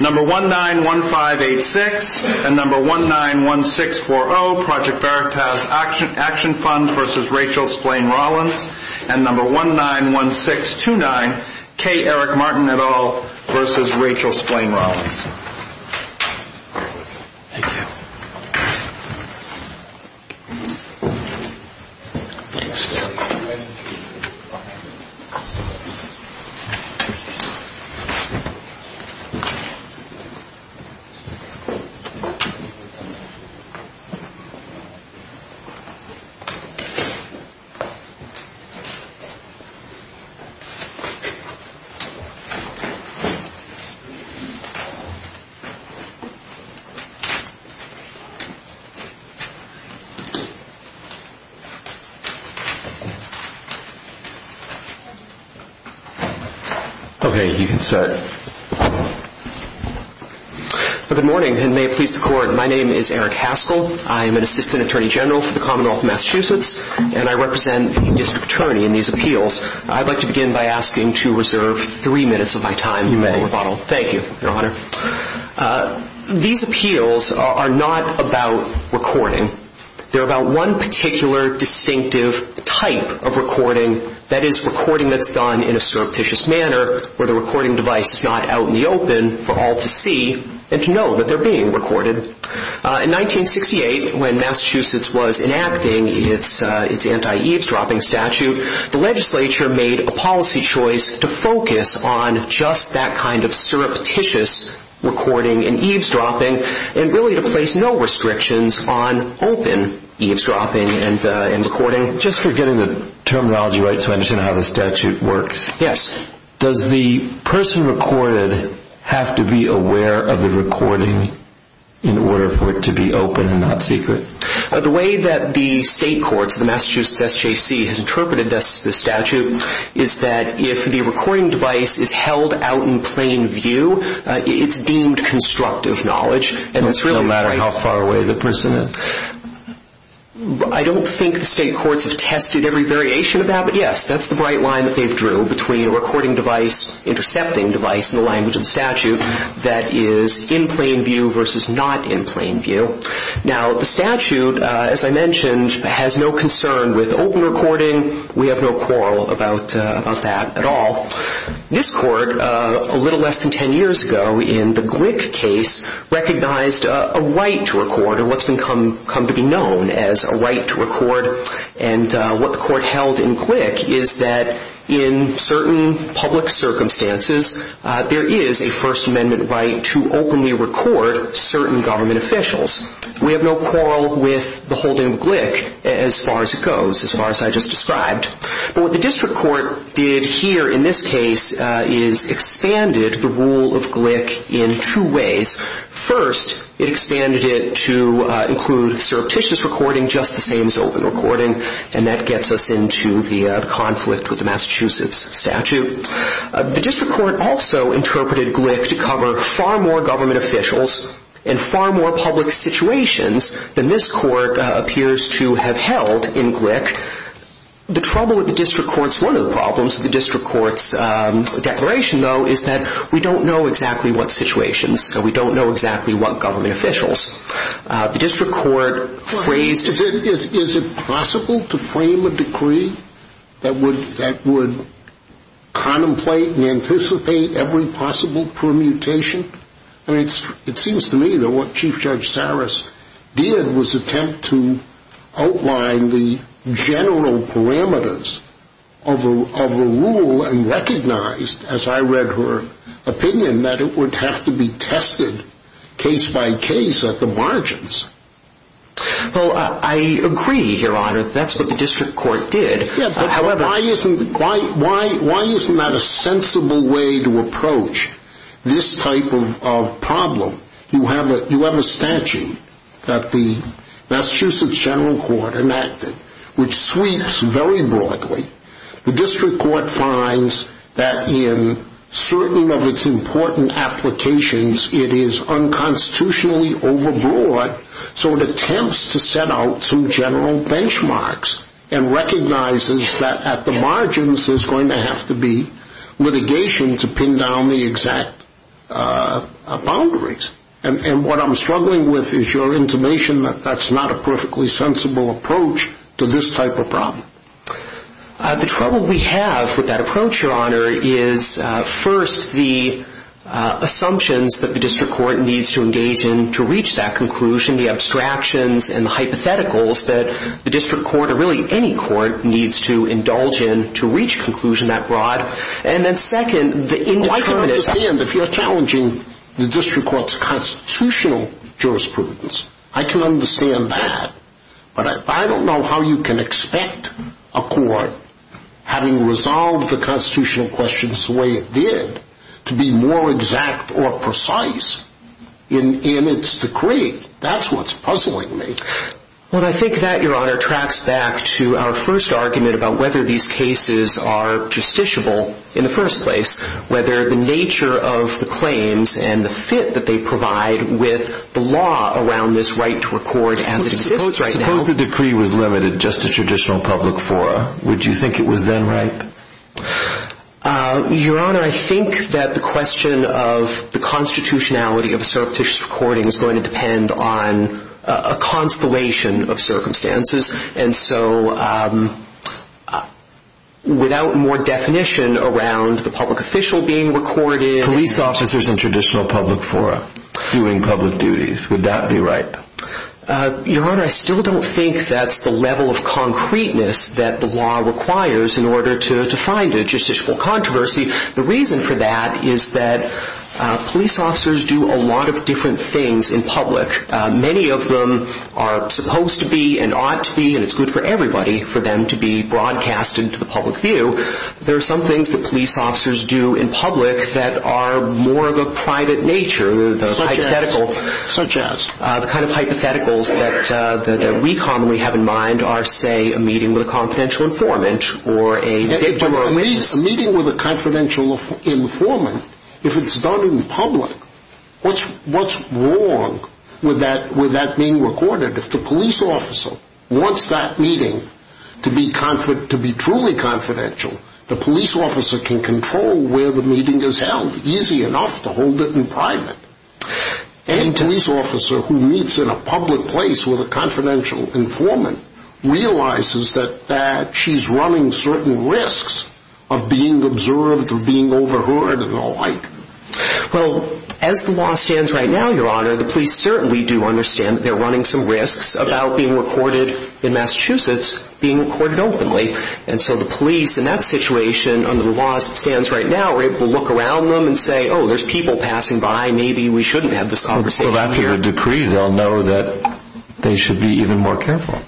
Number 191586 and number 191640, Project Veritas Action Fund v. Rachel Splain Rollins and number 191629, K. Eric Martin et al. v. Rachel Splain Rollins. Okay, you can start. Good morning, and may it please the Court, my name is Eric Haskell. I am an assistant attorney general for the Commonwealth of Massachusetts, and I represent a district attorney in these appeals. I'd like to begin by asking to reserve three minutes of my time for rebuttal. You may. Thank you, Your Honor. These appeals are not about recording. They're about one particular distinctive type of recording, that is, recording that's done in a surreptitious manner where the recording device is not out in the open for all to see and to know that they're being recorded. In 1968, when Massachusetts was enacting its anti-eavesdropping statute, the legislature made a policy choice to focus on just that kind of surreptitious recording and eavesdropping, and really to place no restrictions on open eavesdropping and recording. Just for getting the terminology right so I understand how the statute works. Yes. Does the person recorded have to be aware of the recording in order for it to be open and not secret? The way that the state courts, the Massachusetts SJC, has interpreted the statute is that if the recording device is held out in plain view, it's deemed constructive knowledge. No matter how far away the person is? I don't think the state courts have tested every variation of that, but yes, that's the right line that they've drew between a recording device, intercepting device in the language of the statute, that is in plain view versus not in plain view. Now, the statute, as I mentioned, has no concern with open recording. We have no quarrel about that at all. This court, a little less than ten years ago in the Glick case, recognized a right to record, or what's come to be known as a right to record. And what the court held in Glick is that in certain public circumstances, there is a First Amendment right to openly record certain government officials. We have no quarrel with the holding of Glick as far as it goes, as far as I just described. But what the district court did here in this case is expanded the rule of Glick in two ways. First, it expanded it to include surreptitious recording, just the same as open recording, and that gets us into the conflict with the Massachusetts statute. The district court also interpreted Glick to cover far more government officials in far more public situations than this court appears to have held in Glick. The trouble with the district court's, one of the problems with the district court's declaration, though, is that we don't know exactly what situations, so we don't know exactly what government officials. The district court phrased... Is it possible to frame a decree that would contemplate and anticipate every possible permutation? I mean, it seems to me that what Chief Judge Saras did was attempt to outline the general parameters of a rule and recognized, as I read her opinion, that it would have to be tested case by case at the margins. Well, I agree, Your Honor, that's what the district court did. Yeah, but why isn't that a sensible way to approach this type of problem? You have a statute that the Massachusetts General Court enacted, which sweeps very broadly. The district court finds that in certain of its important applications, it is unconstitutionally overbroad, so it attempts to set out some general benchmarks and recognizes that at the margins there's going to have to be litigation to pin down the exact boundaries. And what I'm struggling with is your intimation that that's not a perfectly sensible approach to this type of problem. The trouble we have with that approach, Your Honor, is first the assumptions that the district court needs to engage in to reach that conclusion, the abstractions and the hypotheticals that the district court, or really any court, needs to indulge in to reach conclusion that broad. And then second, the indeterminates... Well, I can understand if you're challenging the district court's constitutional jurisprudence. I can understand that. But I don't know how you can expect a court, having resolved the constitutional questions the way it did, to be more exact or precise in its decree. That's what's puzzling me. Well, I think that, Your Honor, tracks back to our first argument about whether these cases are justiciable in the first place, whether the nature of the claims and the fit that they provide with the law around this right to record as it exists right now... Suppose the decree was limited just to traditional public fora. Would you think it was then right? Your Honor, I think that the question of the constitutionality of a surreptitious recording is going to depend on a constellation of circumstances. And so, without more definition around the public official being recorded... Police officers in traditional public fora doing public duties. Would that be right? Your Honor, I still don't think that's the level of concreteness that the law requires in order to find a justiciable controversy. The reason for that is that police officers do a lot of different things in public. Many of them are supposed to be and ought to be, and it's good for everybody for them to be broadcasted to the public view. There are some things that police officers do in public that are more of a private nature. Such as? The kind of hypotheticals that we commonly have in mind are, say, a meeting with a confidential informant A meeting with a confidential informant, if it's done in public, what's wrong with that being recorded? If the police officer wants that meeting to be truly confidential, the police officer can control where the meeting is held easy enough to hold it in private. Any police officer who meets in a public place with a confidential informant realizes that she's running certain risks of being observed or being overheard and the like. Well, as the law stands right now, Your Honor, the police certainly do understand that they're running some risks about being recorded in Massachusetts being recorded openly. And so the police, in that situation, under the law as it stands right now, are able to look around them and say, oh, there's people passing by, maybe we shouldn't have this conversation here. Well, after your decree, they'll know that they should be even more careful.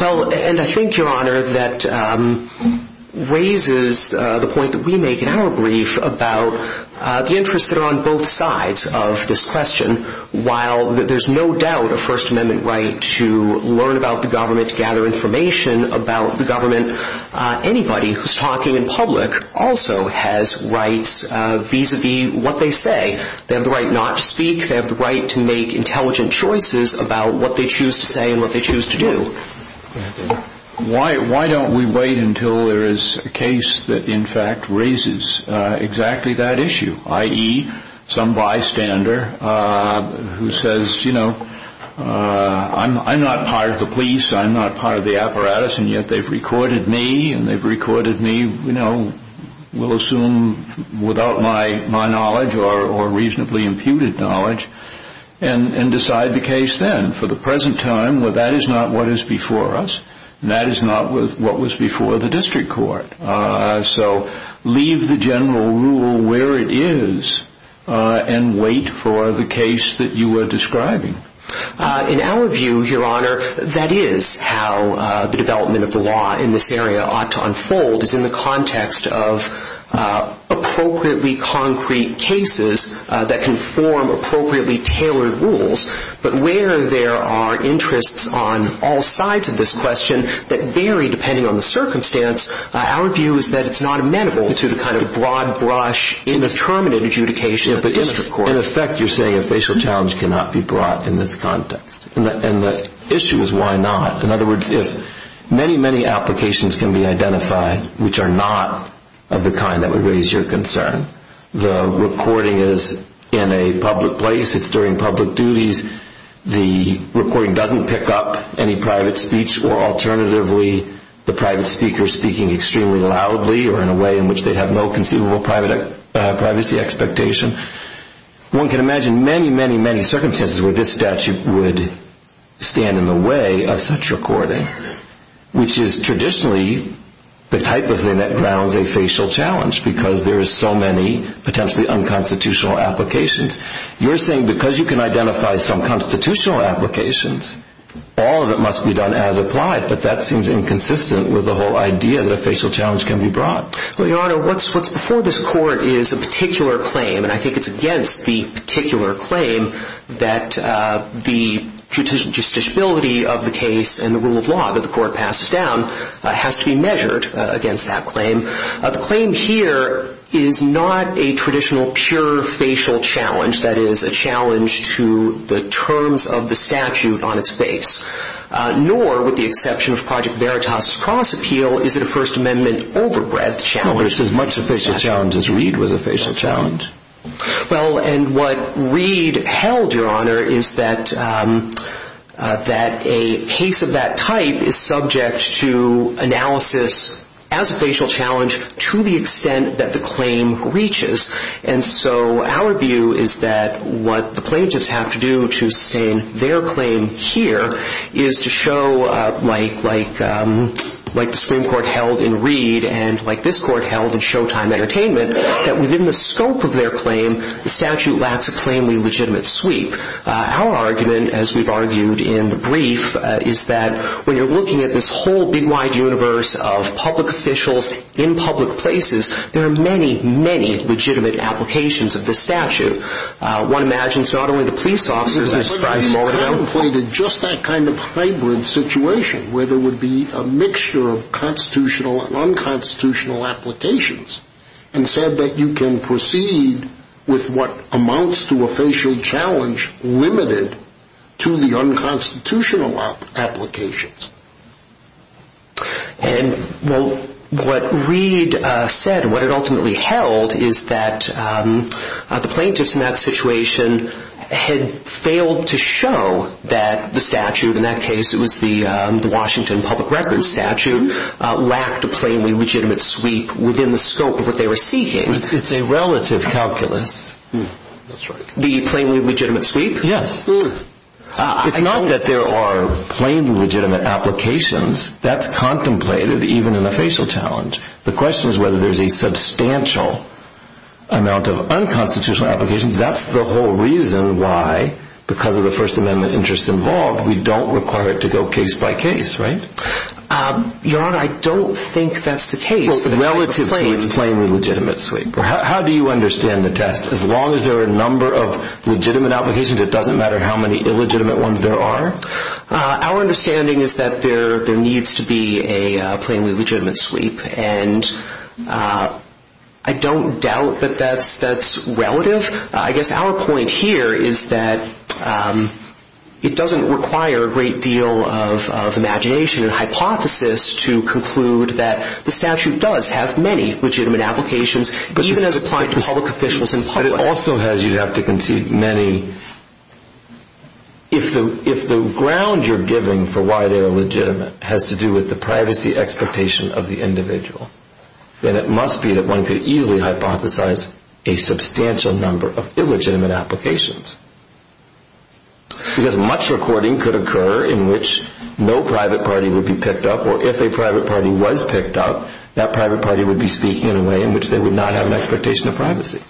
Well, and I think, Your Honor, that raises the point that we make in our brief about the interests that are on both sides of this question. While there's no doubt a First Amendment right to learn about the government, to gather information about the government, anybody who's talking in public also has rights vis-à-vis what they say. They have the right not to speak. They have the right to make intelligent choices about what they choose to say and what they choose to do. Why don't we wait until there is a case that, in fact, raises exactly that issue, i.e., some bystander who says, you know, I'm not part of the police, I'm not part of the apparatus, and yet they've recorded me and they've recorded me, you know, we'll assume without my knowledge or reasonably imputed knowledge, and decide the case then. For the present time, that is not what is before us, and that is not what was before the district court. So leave the general rule where it is and wait for the case that you are describing. In our view, Your Honor, that is how the development of the law in this area ought to unfold, is in the context of appropriately concrete cases that can form appropriately tailored rules. But where there are interests on all sides of this question that vary depending on the circumstance, our view is that it's not amenable to the kind of broad brush indeterminate adjudication of the district court. In effect, you're saying a facial challenge cannot be brought in this context, and the issue is why not. In other words, if many, many applications can be identified which are not of the kind that would raise your concern, the recording is in a public place, it's during public duties, the recording doesn't pick up any private speech, or alternatively, the private speaker speaking extremely loudly or in a way in which they have no conceivable privacy expectation, one can imagine many, many, many circumstances where this statute would stand in the way of such recording, which is traditionally the type of thing that grounds a facial challenge, because there is so many potentially unconstitutional applications. You're saying because you can identify some constitutional applications, all of it must be done as applied, but that seems inconsistent with the whole idea that a facial challenge can be brought. Well, Your Honor, what's before this court is a particular claim, and I think it's against the particular claim that the justiciability of the case and the rule of law that the court passes down has to be measured against that claim. The claim here is not a traditional pure facial challenge, that is, a challenge to the terms of the statute on its face, nor, with the exception of Project Veritas' cross appeal, is it a First Amendment overbreadth challenge. Well, it's as much a facial challenge as Reed was a facial challenge. Well, and what Reed held, Your Honor, is that a case of that type is subject to analysis as a facial challenge to the extent that the claim reaches, and so our view is that what the plaintiffs have to do to sustain their claim here is to show, like the Supreme Court held in Reed and like this court held in Showtime Entertainment, that within the scope of their claim, the statute lacks a plainly legitimate sweep. Our argument, as we've argued in the brief, is that when you're looking at this whole big, wide universe of public officials in public places, there are many, many legitimate applications of this statute. One imagines it's not only the police officers that strive for it. But he contemplated just that kind of hybrid situation where there would be a mixture of constitutional and unconstitutional applications and said that you can proceed with what amounts to a facial challenge limited to the unconstitutional applications. And what Reed said, what it ultimately held, is that the plaintiffs in that situation had failed to show that the statute, in that case it was the Washington Public Records statute, lacked a plainly legitimate sweep within the scope of what they were seeking. It's a relative calculus. The plainly legitimate sweep? Yes. It's not that there are plainly legitimate applications. That's contemplated even in a facial challenge. The question is whether there's a substantial amount of unconstitutional applications. That's the whole reason why, because of the First Amendment interests involved, we don't require it to go case by case, right? Your Honor, I don't think that's the case relative to its plainly legitimate sweep. How do you understand the test? As long as there are a number of legitimate applications, it doesn't matter how many illegitimate ones there are? Our understanding is that there needs to be a plainly legitimate sweep, and I don't doubt that that's relative. I guess our point here is that it doesn't require a great deal of imagination and hypothesis to conclude that the statute does have many legitimate applications, even as applied to public officials in public. But it also has, you'd have to concede, many. If the ground you're giving for why they are legitimate has to do with the privacy expectation of the individual, then it must be that one could easily hypothesize a substantial number of illegitimate applications. Because much recording could occur in which no private party would be picked up, or if a private party was picked up, that private party would be speaking in a way in which they would not have an expectation of privacy.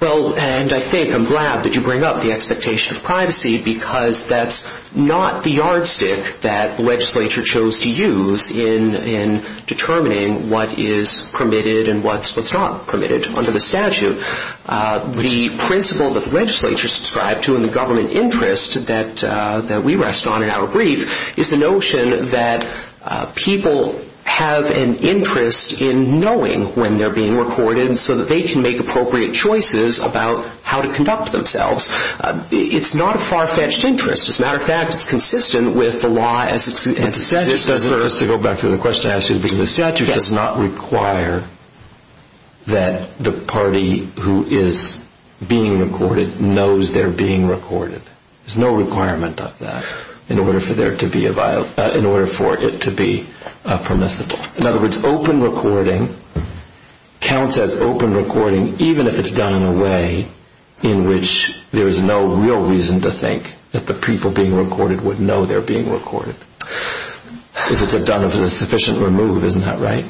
Well, and I think I'm glad that you bring up the expectation of privacy, because that's not the yardstick that the legislature chose to use in determining what is permitted and what's not permitted under the statute. The principle that the legislature subscribed to in the government interest that we rest on in our brief is the notion that people have an interest in knowing when they're being recorded so that they can make appropriate choices about how to conduct themselves. It's not a far-fetched interest. As a matter of fact, it's consistent with the law as it stands. To go back to the question I asked you, the statute does not require that the party who is being recorded knows they're being recorded. There's no requirement of that in order for it to be permissible. In other words, open recording counts as open recording even if it's done in a way in which there is no real reason to think that the people being recorded would know they're being recorded. If it's done sufficiently removed, isn't that right?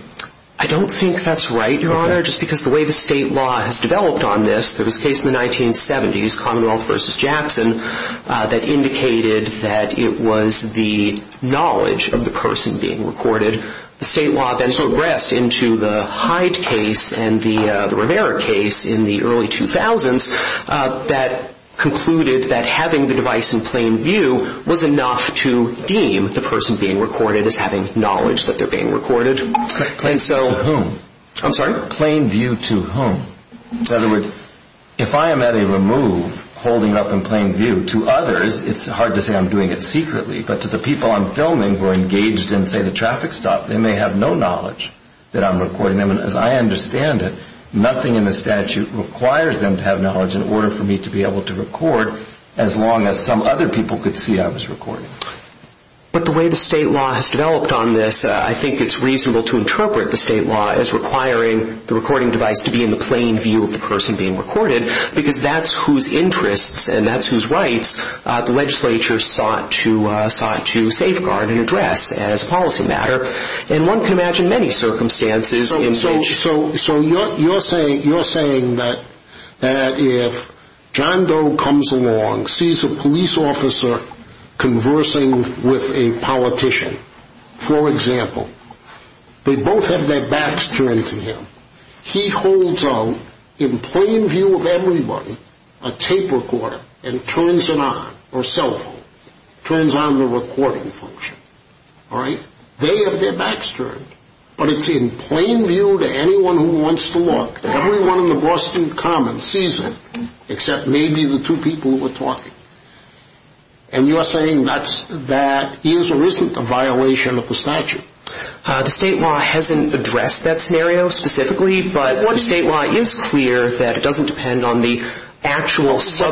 I don't think that's right, Your Honor, just because the way the state law has developed on this, there was a case in the 1970s, Commonwealth v. Jackson, that indicated that it was the knowledge of the person being recorded. The state law then progressed into the Hyde case and the Rivera case in the early 2000s that concluded that having the device in plain view was enough to deem the person being recorded as having knowledge that they're being recorded. Plain view to whom? I'm sorry? Plain view to whom? In other words, if I am at a remove holding up in plain view to others, it's hard to say I'm doing it secretly, but to the people I'm filming who are engaged in, say, the traffic stop, they may have no knowledge that I'm recording them. As I understand it, nothing in the statute requires them to have knowledge in order for me to be able to record as long as some other people could see I was recording. But the way the state law has developed on this, I think it's reasonable to interpret the state law as requiring the recording device to be in the plain view of the person being recorded because that's whose interests and that's whose rights the legislature sought to safeguard and address as a policy matter. And one can imagine many circumstances in which... So you're saying that if John Doe comes along, sees a police officer conversing with a politician, for example, they both have their backs turned to him. He holds out in plain view of everybody a tape recorder and turns it on, or cell phone, turns on the recording function. All right? They have their backs turned, but it's in plain view to anyone who wants to look. Everyone in the Boston Commons sees it except maybe the two people who are talking. And you are saying that is or isn't a violation of the statute? The state law hasn't addressed that scenario specifically, but the state law is clear that it doesn't depend on the actual subject.